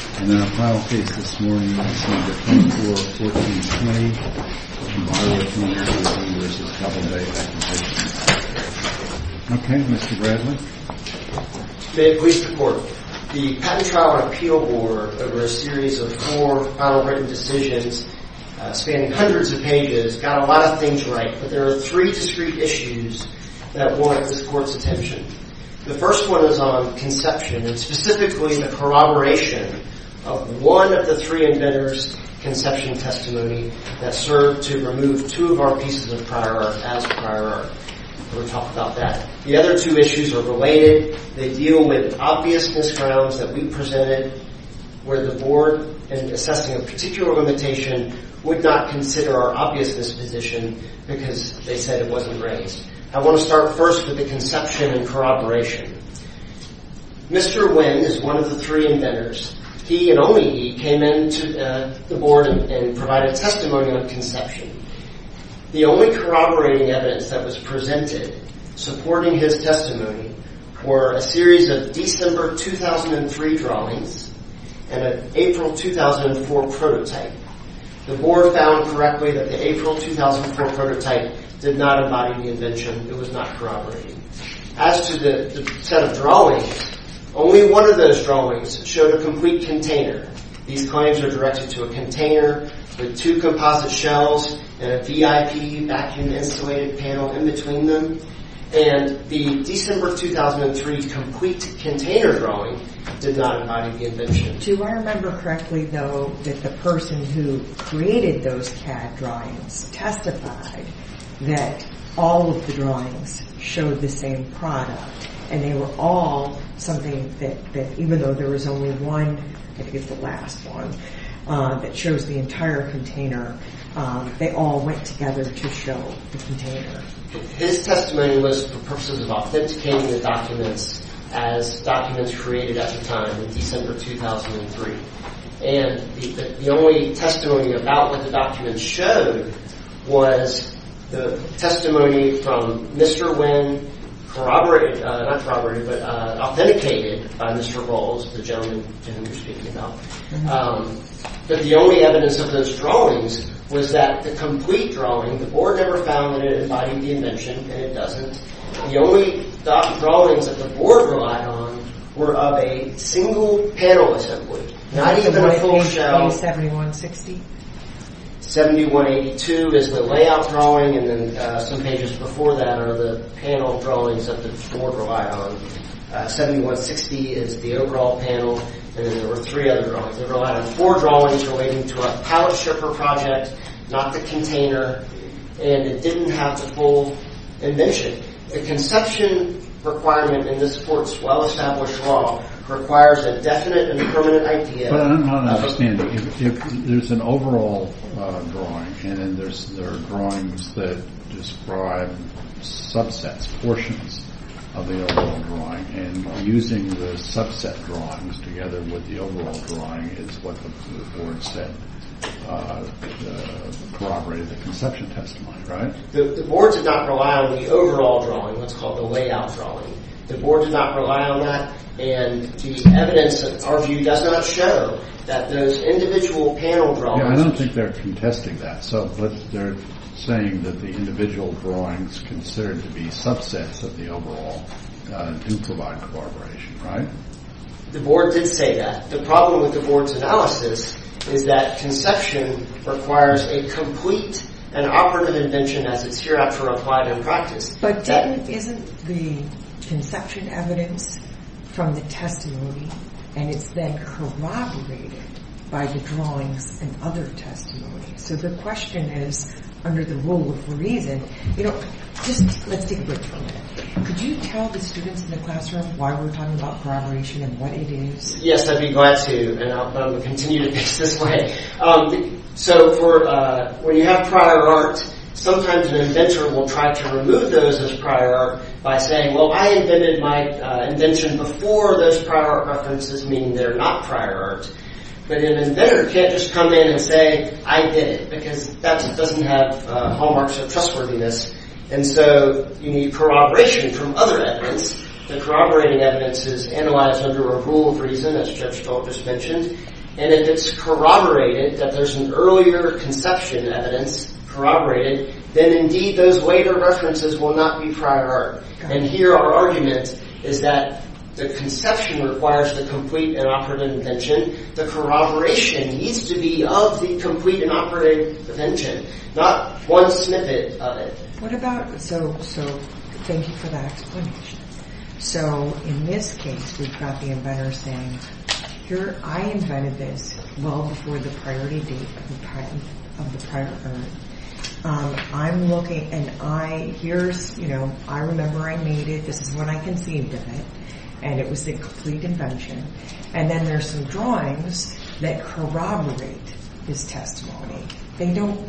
The Patent Trial and Appeal Board over a series of four final written decisions spanning hundreds of pages got a lot of things right, but there are three discrete issues that want this court's attention. The first one is on conception, and specifically the corroboration of one of the three inventors' conception testimony that served to remove two of our pieces of prior art as prior art. We'll talk about that. The other two issues are related. They deal with obviousness grounds that we presented where the board, in assessing a particular limitation, would not consider our obviousness position because they said it wasn't raised. I want to start first with the conception and corroboration. Mr. Nguyen is one of the three inventors. He and only he came into the board and provided testimony on conception. The only corroborating evidence that was presented supporting his testimony were a series of December 2003 drawings and an April 2004 prototype. The board found correctly that the April 2004 prototype did not embody the invention. It was not corroborating. As to the set of drawings, only one of those drawings showed a complete container. These claims are directed to a container with two composite shells and a VIP vacuum insulated panel in between them. And the December 2003 complete container drawing did not embody the invention. Do I remember correctly, though, that the person who created those CAD drawings testified that all of the drawings showed the same product? And they were all something that, even though there was only one, I think it's the last one, that shows the entire container, they all went together to show the container. His testimony was for purposes of authenticating the documents as documents created at the time in December 2003. And the only testimony about what the documents showed was the testimony from Mr. Nguyen corroborated, not corroborated, but authenticated by Mr. Bowles, the gentleman to whom you're speaking about. But the only evidence of those drawings was that the complete drawing, the board never found that it embodied the invention, and it doesn't. The only drawings that the board relied on were of a single panel assembly. Not even a full shell. 7182 is the layout drawing, and then some pages before that are the panel drawings that the board relied on. 7160 is the overall panel, and then there were three other drawings. They relied on four drawings relating to a pallet stripper project, not the container, and it didn't have the full invention. The conception requirement in this court's well-established law requires a definite and permanent idea. But I'm not understanding. There's an overall drawing, and then there are drawings that describe subsets, portions of the overall drawing, and using the subset drawings together with the overall drawing is what the board said corroborated the conception testimony, right? The board did not rely on the overall drawing, what's called the layout drawing. The board did not rely on that, and the evidence of our view does not show that those individual panel drawings... Yeah, I don't think they're contesting that. So they're saying that the individual drawings considered to be subsets of the overall do provide corroboration, right? The board did say that. The problem with the board's analysis is that conception requires a complete and operative invention as it's hereafter applied in practice. But then isn't the conception evidence from the testimony, and it's then corroborated by the drawings and other testimony? So the question is, under the rule of reason, you know, just let's take a break for a minute. Could you tell the students in the classroom why we're talking about corroboration and what it is? Yes, I'd be glad to, and I'll continue to pitch this way. So when you have prior art, sometimes an inventor will try to remove those as prior art by saying, well, I invented my invention before those prior art references, meaning they're not prior art. But an inventor can't just come in and say, I did it, because that doesn't have hallmarks of trustworthiness. And so you need corroboration from other evidence. The corroborating evidence is analyzed under a rule of reason, as Judge Stoltz just mentioned. And if it's corroborated, that there's an earlier conception evidence corroborated, then indeed those later references will not be prior art. And here our argument is that the conception requires the complete and operative invention. The corroboration needs to be of the complete and operative invention, not one snippet of it. So thank you for that explanation. So in this case, we've got the inventor saying, here, I invented this well before the priority date of the prior art. I'm looking, and here's, you know, I remember I made it. This is when I conceived of it, and it was the complete invention. And then there's some drawings that corroborate this testimony. They don't,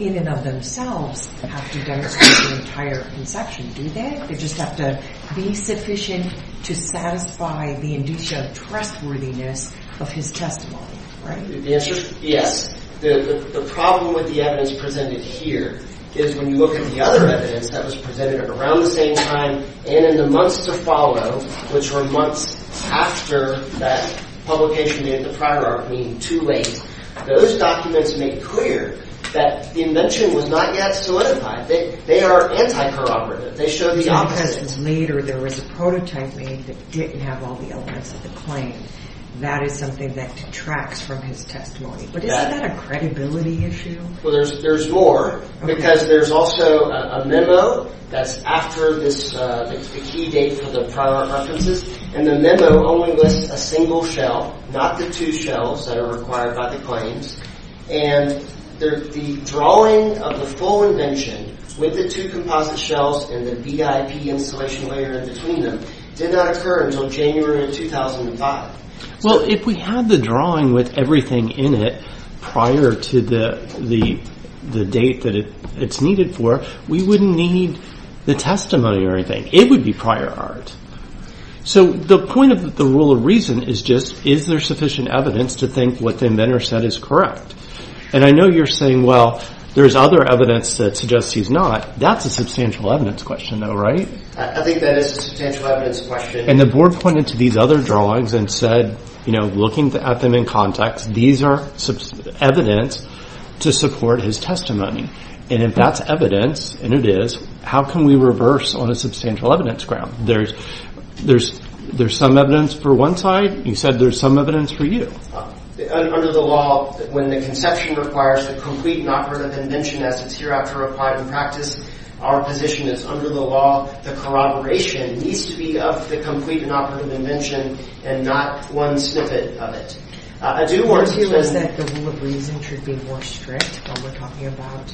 in and of themselves, have to demonstrate the entire conception, do they? They just have to be sufficient to satisfy the indicia of trustworthiness of his testimony, right? The answer is yes. The problem with the evidence presented here is when you look at the other evidence that was presented around the same time and in the months to follow, which were months after that publication made the prior art, meaning too late, those documents make clear that the invention was not yet solidified. They are anti-corroborative. They show the opposite. Because later there was a prototype made that didn't have all the elements of the claim. That is something that detracts from his testimony. But isn't that a credibility issue? Well, there's more, because there's also a memo that's after the key date for the prior art references, and the memo only lists a single shell, not the two shells that are required by the claims. And the drawing of the full invention with the two composite shells and the VIP installation layer in between them did not occur until January of 2005. Well, if we had the drawing with everything in it prior to the date that it's needed for, we wouldn't need the testimony or anything. It would be prior art. So the point of the rule of reason is just is there sufficient evidence to think what the inventor said is correct? And I know you're saying, well, there's other evidence that suggests he's not. That's a substantial evidence question, though, right? I think that is a substantial evidence question. And the board pointed to these other drawings and said, looking at them in context, these are evidence to support his testimony. And if that's evidence, and it is, how can we reverse on a substantial evidence ground? There's some evidence for one side. You said there's some evidence for you. Under the law, when the conception requires the complete and operative invention as it's hereafter applied in practice, our position is, under the law, the corroboration needs to be of the complete and operative invention and not one snippet of it. Do you feel that the rule of reason should be more strict when we're talking about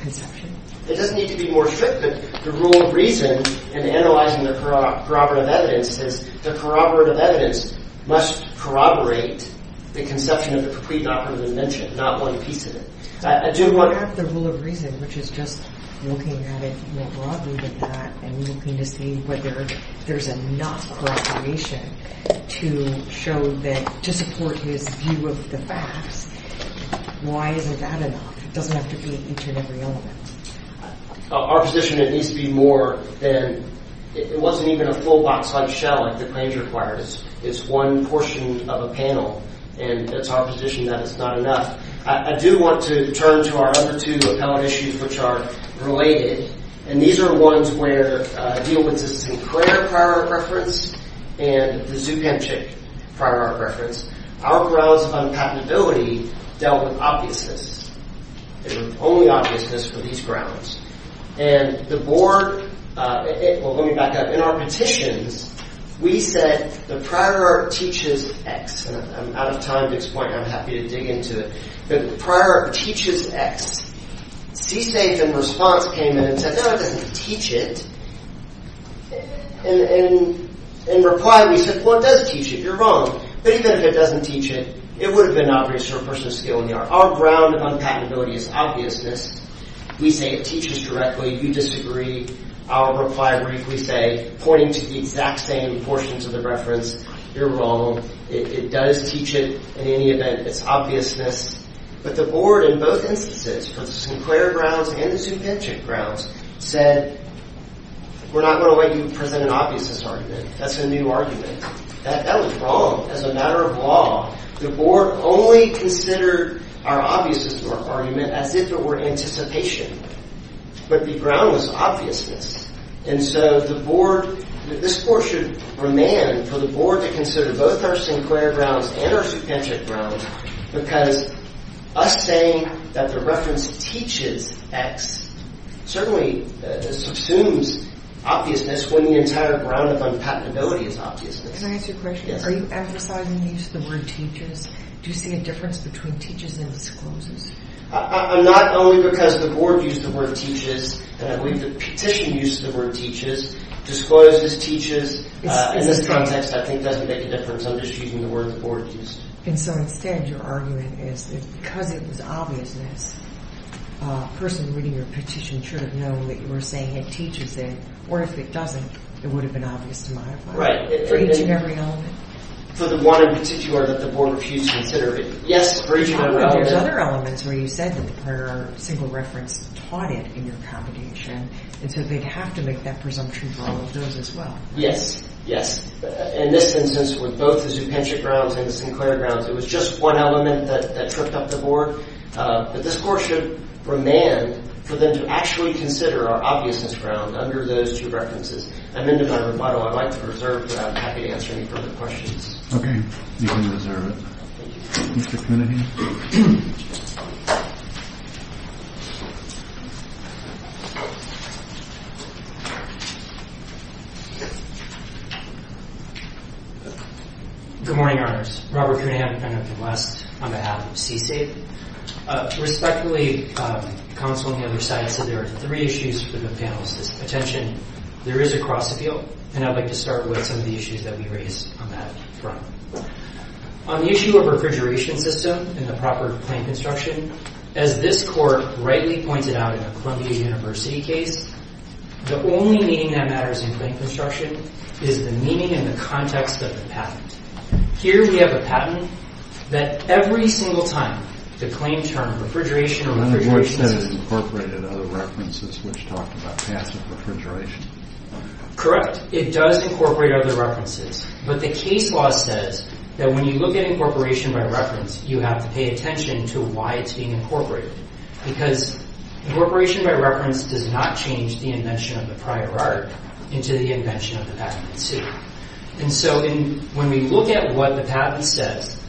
conception? It doesn't need to be more strict, but the rule of reason in analyzing the corroborative evidence says the corroborative evidence must corroborate the conception of the complete and operative invention, not one piece of it. I have the rule of reason, which is just looking at it more broadly than that and looking to see whether there's enough corroboration to show that, to support his view of the facts, why isn't that enough? It doesn't have to be each and every element. Our position is it needs to be more than, it wasn't even a full box-sized shell like the claims requires. It's one portion of a panel, and it's our position that it's not enough. I do want to turn to our other two appellate issues, which are related, and these are ones where I deal with the Sinclair prior art preference and the Zupanchick prior art preference. Our grounds of unpatenability dealt with obviousness. There's only obviousness for these grounds. And the board, well, let me back up. In our petitions, we said the prior art teaches X, and I'm out of time at this point. I'm happy to dig into it. The prior art teaches X. CSAFE in response came in and said, no, it doesn't teach it. In reply, we said, well, it does teach it. You're wrong. But even if it doesn't teach it, it would have been obvious to a person of skill in the art. Our ground of unpatenability is obviousness. We say it teaches directly. You disagree. Our reply briefly say, pointing to the exact same portions of the reference, you're wrong. It does teach it in any event. It's obviousness. But the board in both instances, for the Sinclair grounds and the Zupanchick grounds, said, we're not going to let you present an obviousness argument. That's a new argument. That was wrong as a matter of law. The board only considered our obviousness argument as if it were anticipation. But the ground was obviousness. This court should remand for the board to consider both our Sinclair grounds and our Zupanchick grounds because us saying that the reference teaches X certainly subsumes obviousness when the entire ground of unpatenability is obviousness. Can I ask you a question? Are you emphasizing the use of the word teaches? Do you see a difference between teaches and discloses? Not only because the board used the word teaches. I believe the petition used the word teaches. Discloses teaches, in this context, I think doesn't make a difference. I'm just using the word the board used. And so instead, your argument is that because it was obviousness, a person reading your petition should have known that you were saying it teaches it. Or if it doesn't, it would have been obvious to my mind. Right. For each and every element? For the one in particular that the board refused to consider, yes, for each and every element. But there's other elements where you said that the prior single reference taught it in your accommodation. And so they'd have to make that presumption for all of those as well. Yes. Yes. In this instance, with both the Zupanchick grounds and the Sinclair grounds, it was just one element that tripped up the board. But this court should remand for them to actually consider our obviousness ground under those two references. I'm into my rebuttal. I'd like to preserve that. I'm happy to answer any further questions. OK. You can preserve it. Thank you. Mr. Cunningham. Good morning, honors. Robert Cunningham, defendant of the West, on behalf of CSAFE. Respectfully, counsel on the other side said there are three issues for the panelists' attention. There is a cross appeal. And I'd like to start with some of the issues that we raised on that front. On the issue of refrigeration system and the proper claim construction, as this court rightly pointed out in the Columbia University case, the only meaning that matters in claim construction is the meaning and the context of the patent. Here we have a patent that every single time the claim term refrigeration or refrigerations- And the court said it incorporated other references which talked about passive refrigeration. Correct. It does incorporate other references. But the case law says that when you look at incorporation by reference, you have to pay attention to why it's being incorporated. Because incorporation by reference does not change the invention of the prior art into the invention of the patent itself. And so when we look at what the patent says,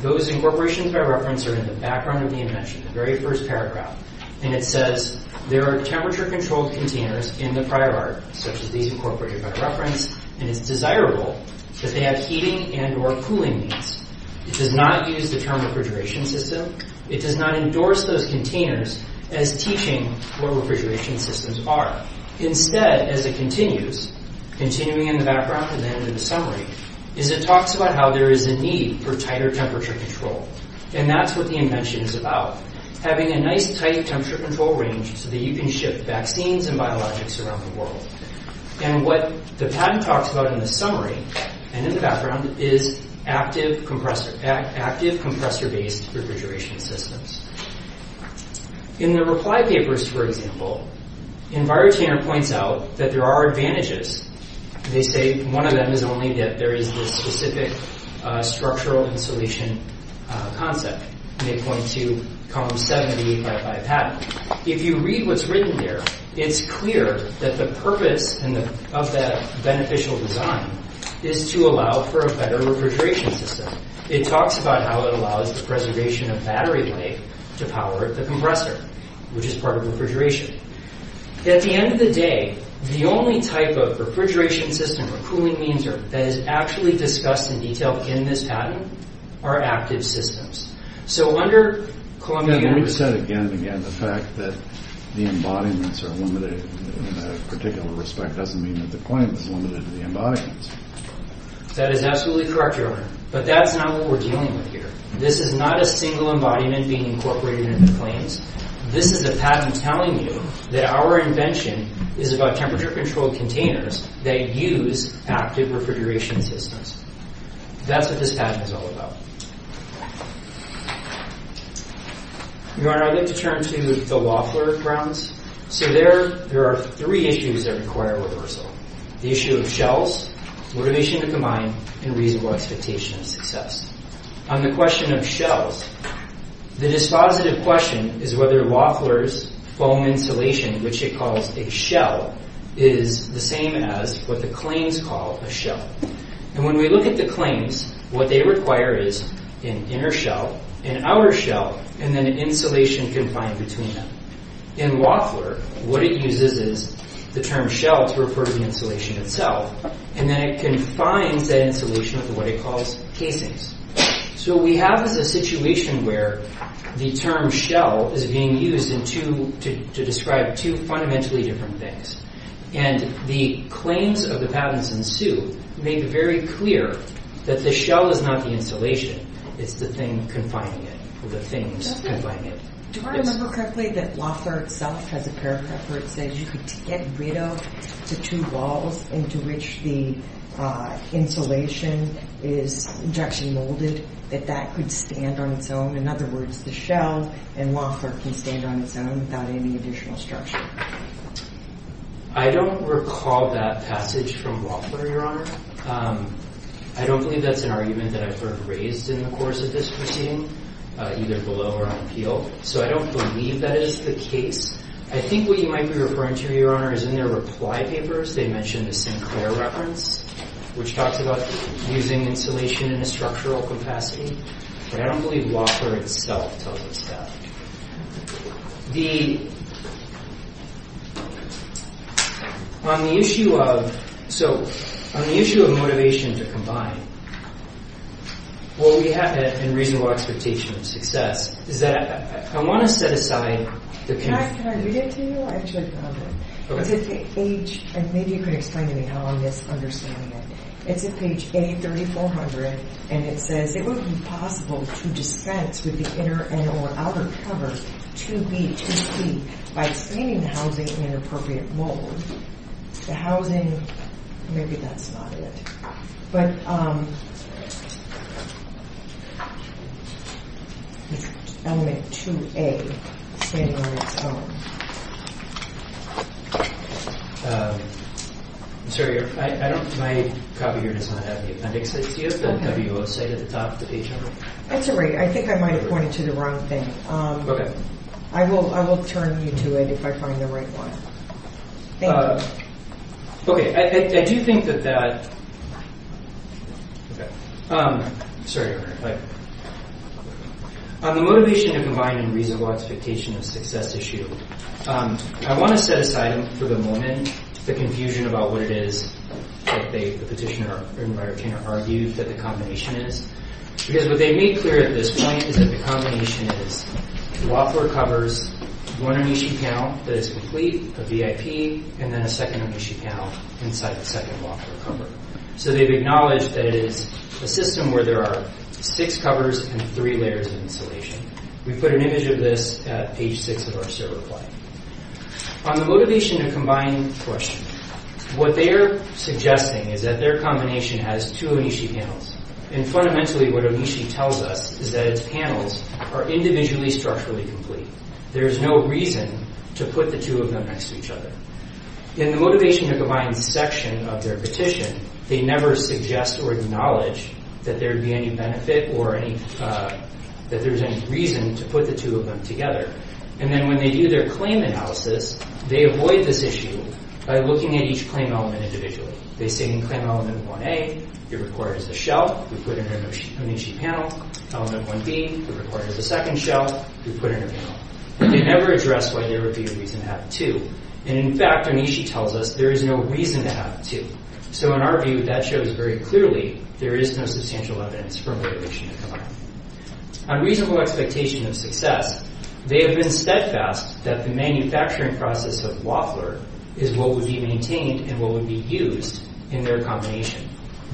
those incorporations by reference are in the background of the invention, the very first paragraph. And it says there are temperature-controlled containers in the prior art, such as these incorporated by reference, and it's desirable that they have heating and or cooling needs. It does not use the term refrigeration system. It does not endorse those containers as teaching what refrigeration systems are. Instead, as it continues, continuing in the background and then in the summary, is it talks about how there is a need for tighter temperature control. And that's what the invention is about, having a nice tight temperature control range so that you can ship vaccines and biologics around the world. And what the patent talks about in the summary and in the background is active compressor-based refrigeration systems. In the reply papers, for example, Envirotainer points out that there are advantages. They say one of them is only that there is this specific structural and solution concept. And they point to Column 70 by the patent. If you read what's written there, it's clear that the purpose of that beneficial design is to allow for a better refrigeration system. It talks about how it allows the preservation of battery life to power the compressor, which is part of refrigeration. At the end of the day, the only type of refrigeration system or cooling means that is actually discussed in detail in this patent are active systems. We've said again and again the fact that the embodiments are limited in a particular respect doesn't mean that the claim is limited to the embodiments. That is absolutely correct, Your Honor. But that's not what we're dealing with here. This is not a single embodiment being incorporated in the claims. This is a patent telling you that our invention is about temperature-controlled containers that use active refrigeration systems. That's what this patent is all about. Your Honor, I'd like to turn to the Woffler grounds. So there are three issues that require reversal. The issue of shells, motivation to combine, and reasonable expectation of success. On the question of shells, the dispositive question is whether Woffler's foam insulation, which it calls a shell, is the same as what the claims call a shell. And when we look at the claims, what they require is an inner shell, an outer shell, and then insulation confined between them. In Woffler, what it uses is the term shell to refer to the insulation itself, and then it confines that insulation with what it calls casings. So what we have is a situation where the term shell is being used to describe two fundamentally different things. And the claims of the patents in Sioux make very clear that the shell is not the insulation, it's the thing confining it, or the things confining it. Do I remember correctly that Woffler itself has a paragraph where it says you could get rid of the two walls into which the insulation is actually molded, that that could stand on its own? In other words, the shell in Woffler can stand on its own without any additional structure. I don't recall that passage from Woffler, Your Honor. I don't believe that's an argument that I've heard raised in the course of this proceeding, either below or on appeal. So I don't believe that is the case. I think what you might be referring to, Your Honor, is in their reply papers. They mentioned the Sinclair reference, which talks about using insulation in a structural capacity. But I don't believe Woffler itself tells us that. On the issue of motivation to combine, what we have in reasonable expectation of success is that I want to set aside the... Can I read it to you? I actually found it. It's a page... maybe you could explain to me how I'm misunderstanding it. It's in page A3400, and it says, It would be possible to dispense with the inner and or outer cover 2B, 2C by screening the housing in an appropriate mold. The housing... maybe that's not it. But... Element 2A standing on its own. I'm sorry, I don't... my copy here does not have the appendix. Do you have the W.O. site at the top of the page on it? That's all right. I think I might have pointed to the wrong thing. Okay. I will turn you to it if I find the right one. Thank you. Okay. I do think that that... Okay. I'm sorry, Your Honor. On the motivation to combine in reasonable expectation of success issue, I want to set aside for the moment the confusion about what it is that the petitioner, or my retainer, argued that the combination is. Because what they made clear at this point is that the combination is the law floor covers one omission panel that is complete, a VIP, and then a second omission panel inside the second law floor cover. So they've acknowledged that it is a system where there are six covers and three layers of insulation. We put an image of this at page six of our server plan. On the motivation to combine question, what they're suggesting is that their combination has two omission panels. And fundamentally what omission tells us is that its panels are individually structurally complete. There is no reason to put the two of them next to each other. In the motivation to combine section of their petition, they never suggest or acknowledge that there would be any benefit or any... that there's any reason to put the two of them together. And then when they do their claim analysis, they avoid this issue by looking at each claim element individually. They say in claim element 1A, your record is the shell. We put in an omission panel. Element 1B, your record is the second shell. We put in a panel. They never address why there would be a reason to have two. And in fact, Onishi tells us there is no reason to have two. So in our view, that shows very clearly there is no substantial evidence for motivation to combine. On reasonable expectation of success, they have been steadfast that the manufacturing process of Woffler is what would be maintained and what would be used in their combination.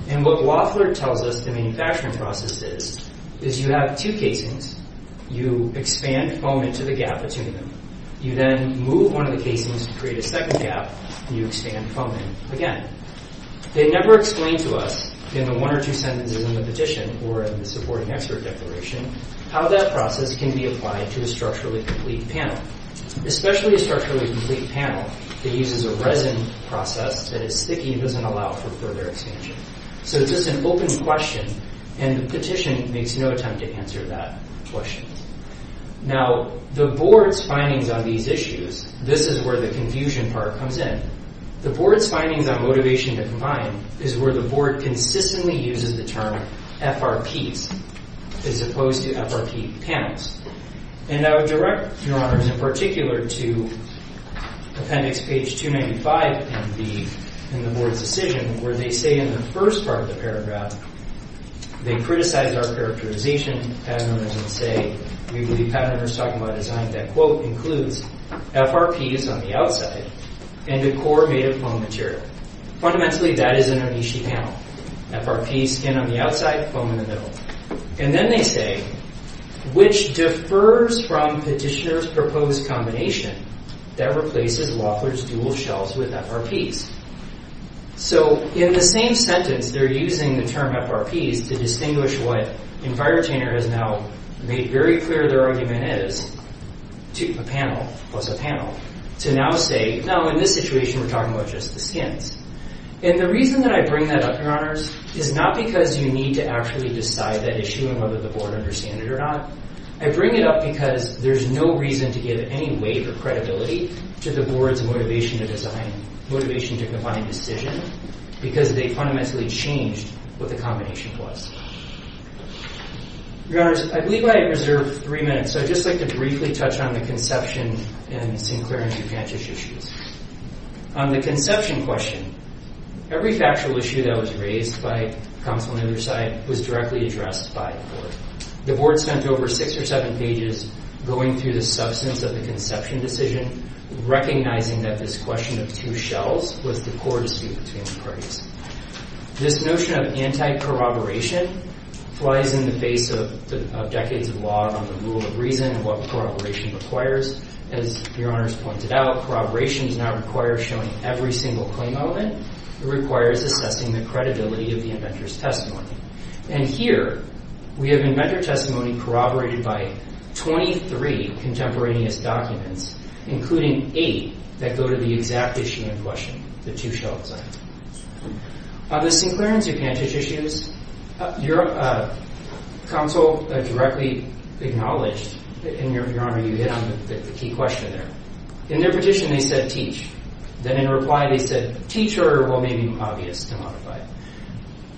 And what Woffler tells us the manufacturing process is, is you have two casings. You expand foam into the gap between them. You then move one of the casings to create a second gap, and you expand foam in again. They never explain to us in the one or two sentences in the petition or in the supporting expert declaration how that process can be applied to a structurally complete panel, especially a structurally complete panel that uses a resin process that is sticky and doesn't allow for further expansion. So it's just an open question, and the petition makes no attempt to answer that question. Now, the board's findings on these issues, this is where the confusion part comes in. The board's findings on motivation to combine is where the board consistently uses the term FRPs as opposed to FRP panels. And I would direct your honors in particular to appendix page 295 in the board's decision where they say in the first part of the paragraph, they criticize our characterization. Patent owners would say, we believe patent owners talk about a design that, quote, includes FRPs on the outside and a core made of foam material. Fundamentally, that is an Onishi panel. FRPs, skin on the outside, foam in the middle. And then they say, which differs from petitioner's proposed combination that replaces Woffler's dual shelves with FRPs. So in the same sentence, they're using the term FRPs to distinguish what Envirotainer has now made very clear their argument is, a panel plus a panel, to now say, no, in this situation, we're talking about just the skins. And the reason that I bring that up, your honors, is not because you need to actually decide that issue and whether the board understand it or not. I bring it up because there's no reason to give any weight or credibility to the board's motivation to design, motivation to combine decision, because they fundamentally changed what the combination was. Your honors, I believe I have reserved three minutes, so I'd just like to briefly touch on the conception and Sinclair and DuPantis issues. On the conception question, every factual issue that was raised by counsel on either side was directly addressed by the board. The board spent over six or seven pages going through the substance of the conception decision, recognizing that this question of two shells was the core dispute between the parties. This notion of anti-corroboration flies in the face of decades of law on the rule of reason and what corroboration requires. As your honors pointed out, corroboration does not require showing every single claim element. It requires assessing the credibility of the inventor's testimony. And here, we have inventor testimony corroborated by 23 contemporaneous documents, including eight that go to the exact issue in question, the two-shell design. On the Sinclair and DuPantis issues, counsel directly acknowledged, and your honor, you hit on the key question there. In their petition, they said, teach. Then in reply, they said, teach or, well, maybe obvious to modify.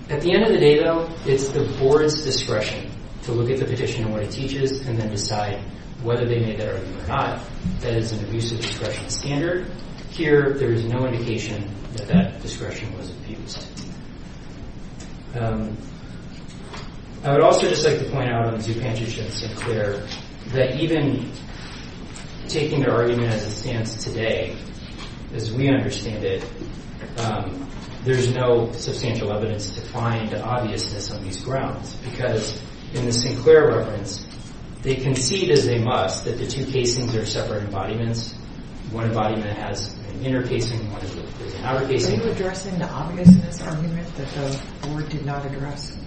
At the end of the day, though, it's the board's discretion to look at the petition and what it teaches and then decide whether they made that argument or not. That is an abusive discretion standard. Here, there is no indication that that discretion was abused. I would also just like to point out on DuPantis and Sinclair that even taking their argument as it stands today, as we understand it, there's no substantial evidence to find the obviousness on these grounds because in the Sinclair reference, they concede as they must that the two casings are separate embodiments. One embodiment has an inner casing. One has an outer casing. Are you addressing the obviousness argument that the board did not address?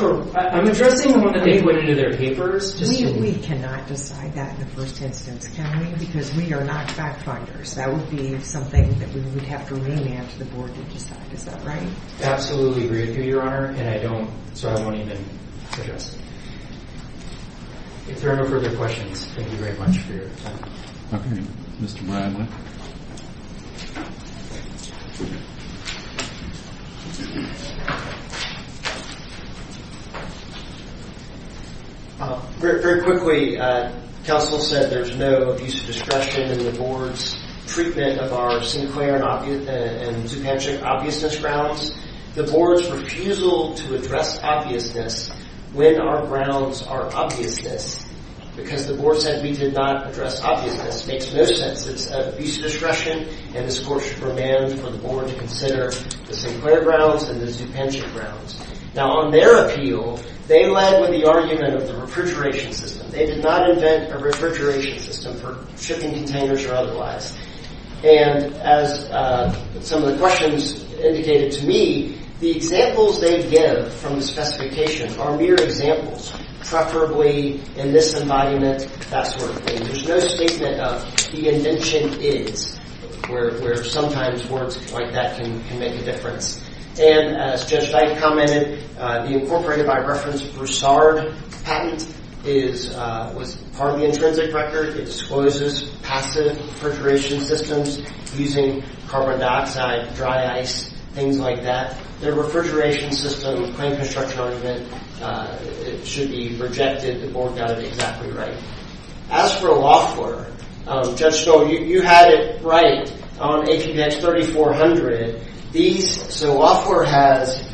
I'm addressing one that they put into their papers. We cannot decide that in the first instance, can we? Because we are not fact-finders. That would be something that we would have to lean in to the board to decide. Is that right? I absolutely agree with you, Your Honor, and I don't, so I won't even suggest. If there are no further questions, thank you very much for your time. Okay. Mr. Bradley? Very quickly, counsel said there's no abusive discretion in the board's treatment of our Sinclair and Zupancic obviousness grounds. The board's refusal to address obviousness when our grounds are obviousness because the board said we did not address obviousness makes no sense. It's abusive discretion, and this court should demand for the board to consider the Sinclair grounds and the Zupancic grounds. Now on their appeal, they led with the argument of the refrigeration system. They did not invent a refrigeration system for shipping containers or otherwise. And as some of the questions indicated to me, the examples they give from the specification are mere examples, preferably in this embodiment, that sort of thing. There's no statement of the invention is, where sometimes words like that can make a difference. And as Judge Dyke commented, the incorporated, by reference, Broussard patent was part of the intrinsic record. It discloses passive refrigeration systems using carbon dioxide, dry ice, things like that. Their refrigeration system claim construction argument should be rejected. The board got it exactly right. As for Loeffler, Judge Stoll, you had it right on HBX 3400. So Loeffler has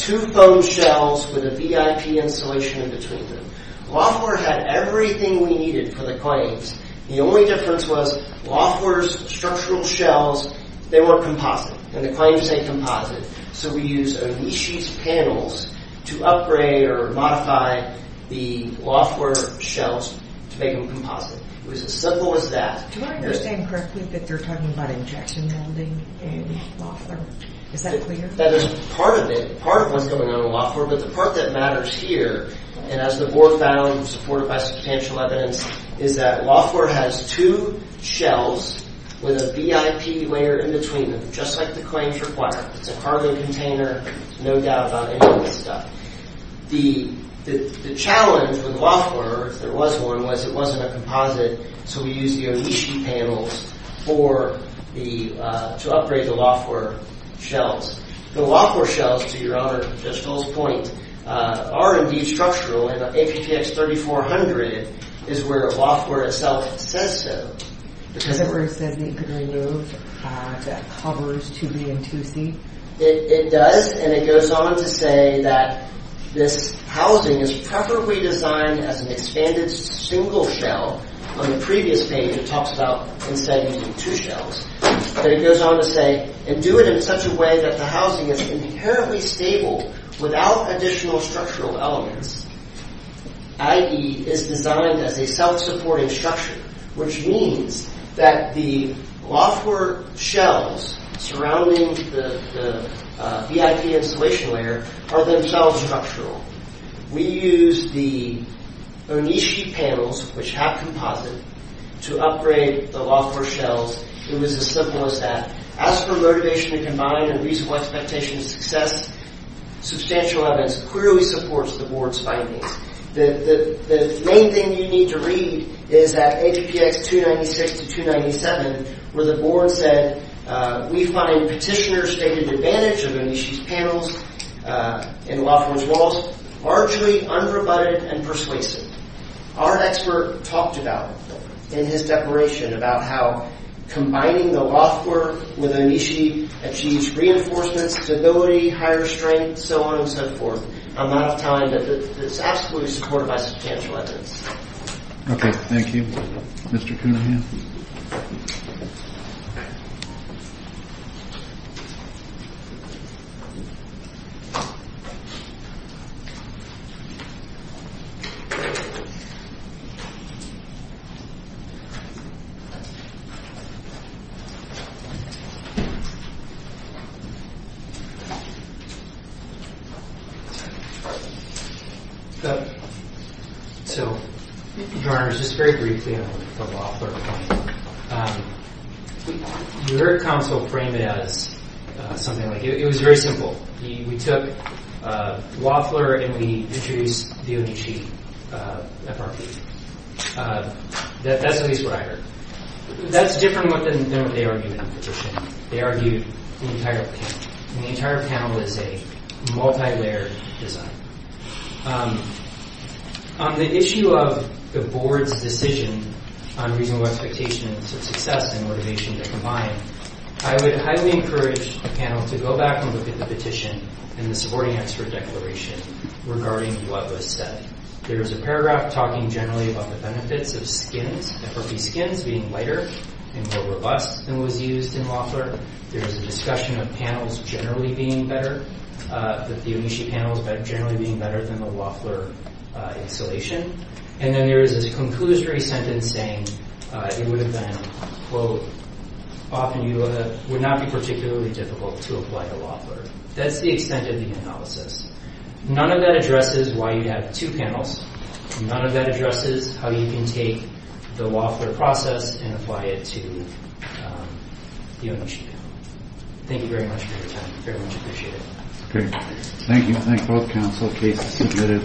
two foam shells with a VIP insulation in between them. Loeffler had everything we needed for the claims. The only difference was Loeffler's structural shells, they were composite. And the claims say composite. So we used Onishi's panels to upgrade or modify the Loeffler shells to make them composite. It was as simple as that. Do I understand correctly that they're talking about injection welding in Loeffler? Is that clear? Part of it, part of what's going on in Loeffler, but the part that matters here, and as the board found supported by substantial evidence, is that Loeffler has two shells with a VIP layer in between them, just like the claims require. It's a carbon container, no doubt about it. The challenge with Loeffler, if there was one, was it wasn't a composite, so we used the Onishi panels to upgrade the Loeffler shells. The Loeffler shells, to your Honor, Judge Full's point, are indeed structural, and APTX 3400 is where Loeffler itself says so. Does that mean it could remove the covers to the M2C? It does, and it goes on to say that this housing is properly designed as an expanded single shell. On the previous page it talks about instead using two shells. But it goes on to say, and do it in such a way that the housing is inherently stable without additional structural elements, i.e. is designed as a self-supporting structure, which means that the Loeffler shells surrounding the VIP insulation layer are themselves structural. We used the Onishi panels, which have composite, to upgrade the Loeffler shells. It was as simple as that. As for motivation to combine and reasonable expectations of success, substantial evidence clearly supports the Board's findings. The main thing you need to read is that APTX 296 to 297, where the Board said, we find Petitioner's stated advantage of Onishi's panels in Loeffler's walls largely unrebutted and persuasive. Our expert talked about in his declaration about how combining the Loeffler with Onishi achieves reinforcements, stability, higher strength, so on and so forth. I'm not telling that it's absolutely supported by substantial evidence. Okay, thank you. Mr. Coonerhan. Thank you. So, Your Honor, just very briefly on the Loeffler point. Your counsel framed it as something like, it was very simple. We took Loeffler and we introduced the Onishi FRP. That's at least what I heard. That's different than what they argued in the petition. They argued the entire panel. And the entire panel is a multi-layered design. On the issue of the Board's decision on reasonable expectations of success and motivation to combine, I would highly encourage the panel to go back and look at the petition and the supporting expert declaration regarding what was said. There is a paragraph talking generally about the benefits of skins, FRP skins being lighter and more robust than was used in Loeffler. There is a discussion of panels generally being better, that the Onishi panels generally being better than the Loeffler installation. And then there is a conclusory sentence saying it would have been, quote, often you would not be particularly difficult to apply to Loeffler. That's the extent of the analysis. None of that addresses why you have two panels. None of that addresses how you can take the Loeffler process and apply it to the Onishi panel. Thank you very much for your time. I very much appreciate it. Thank you.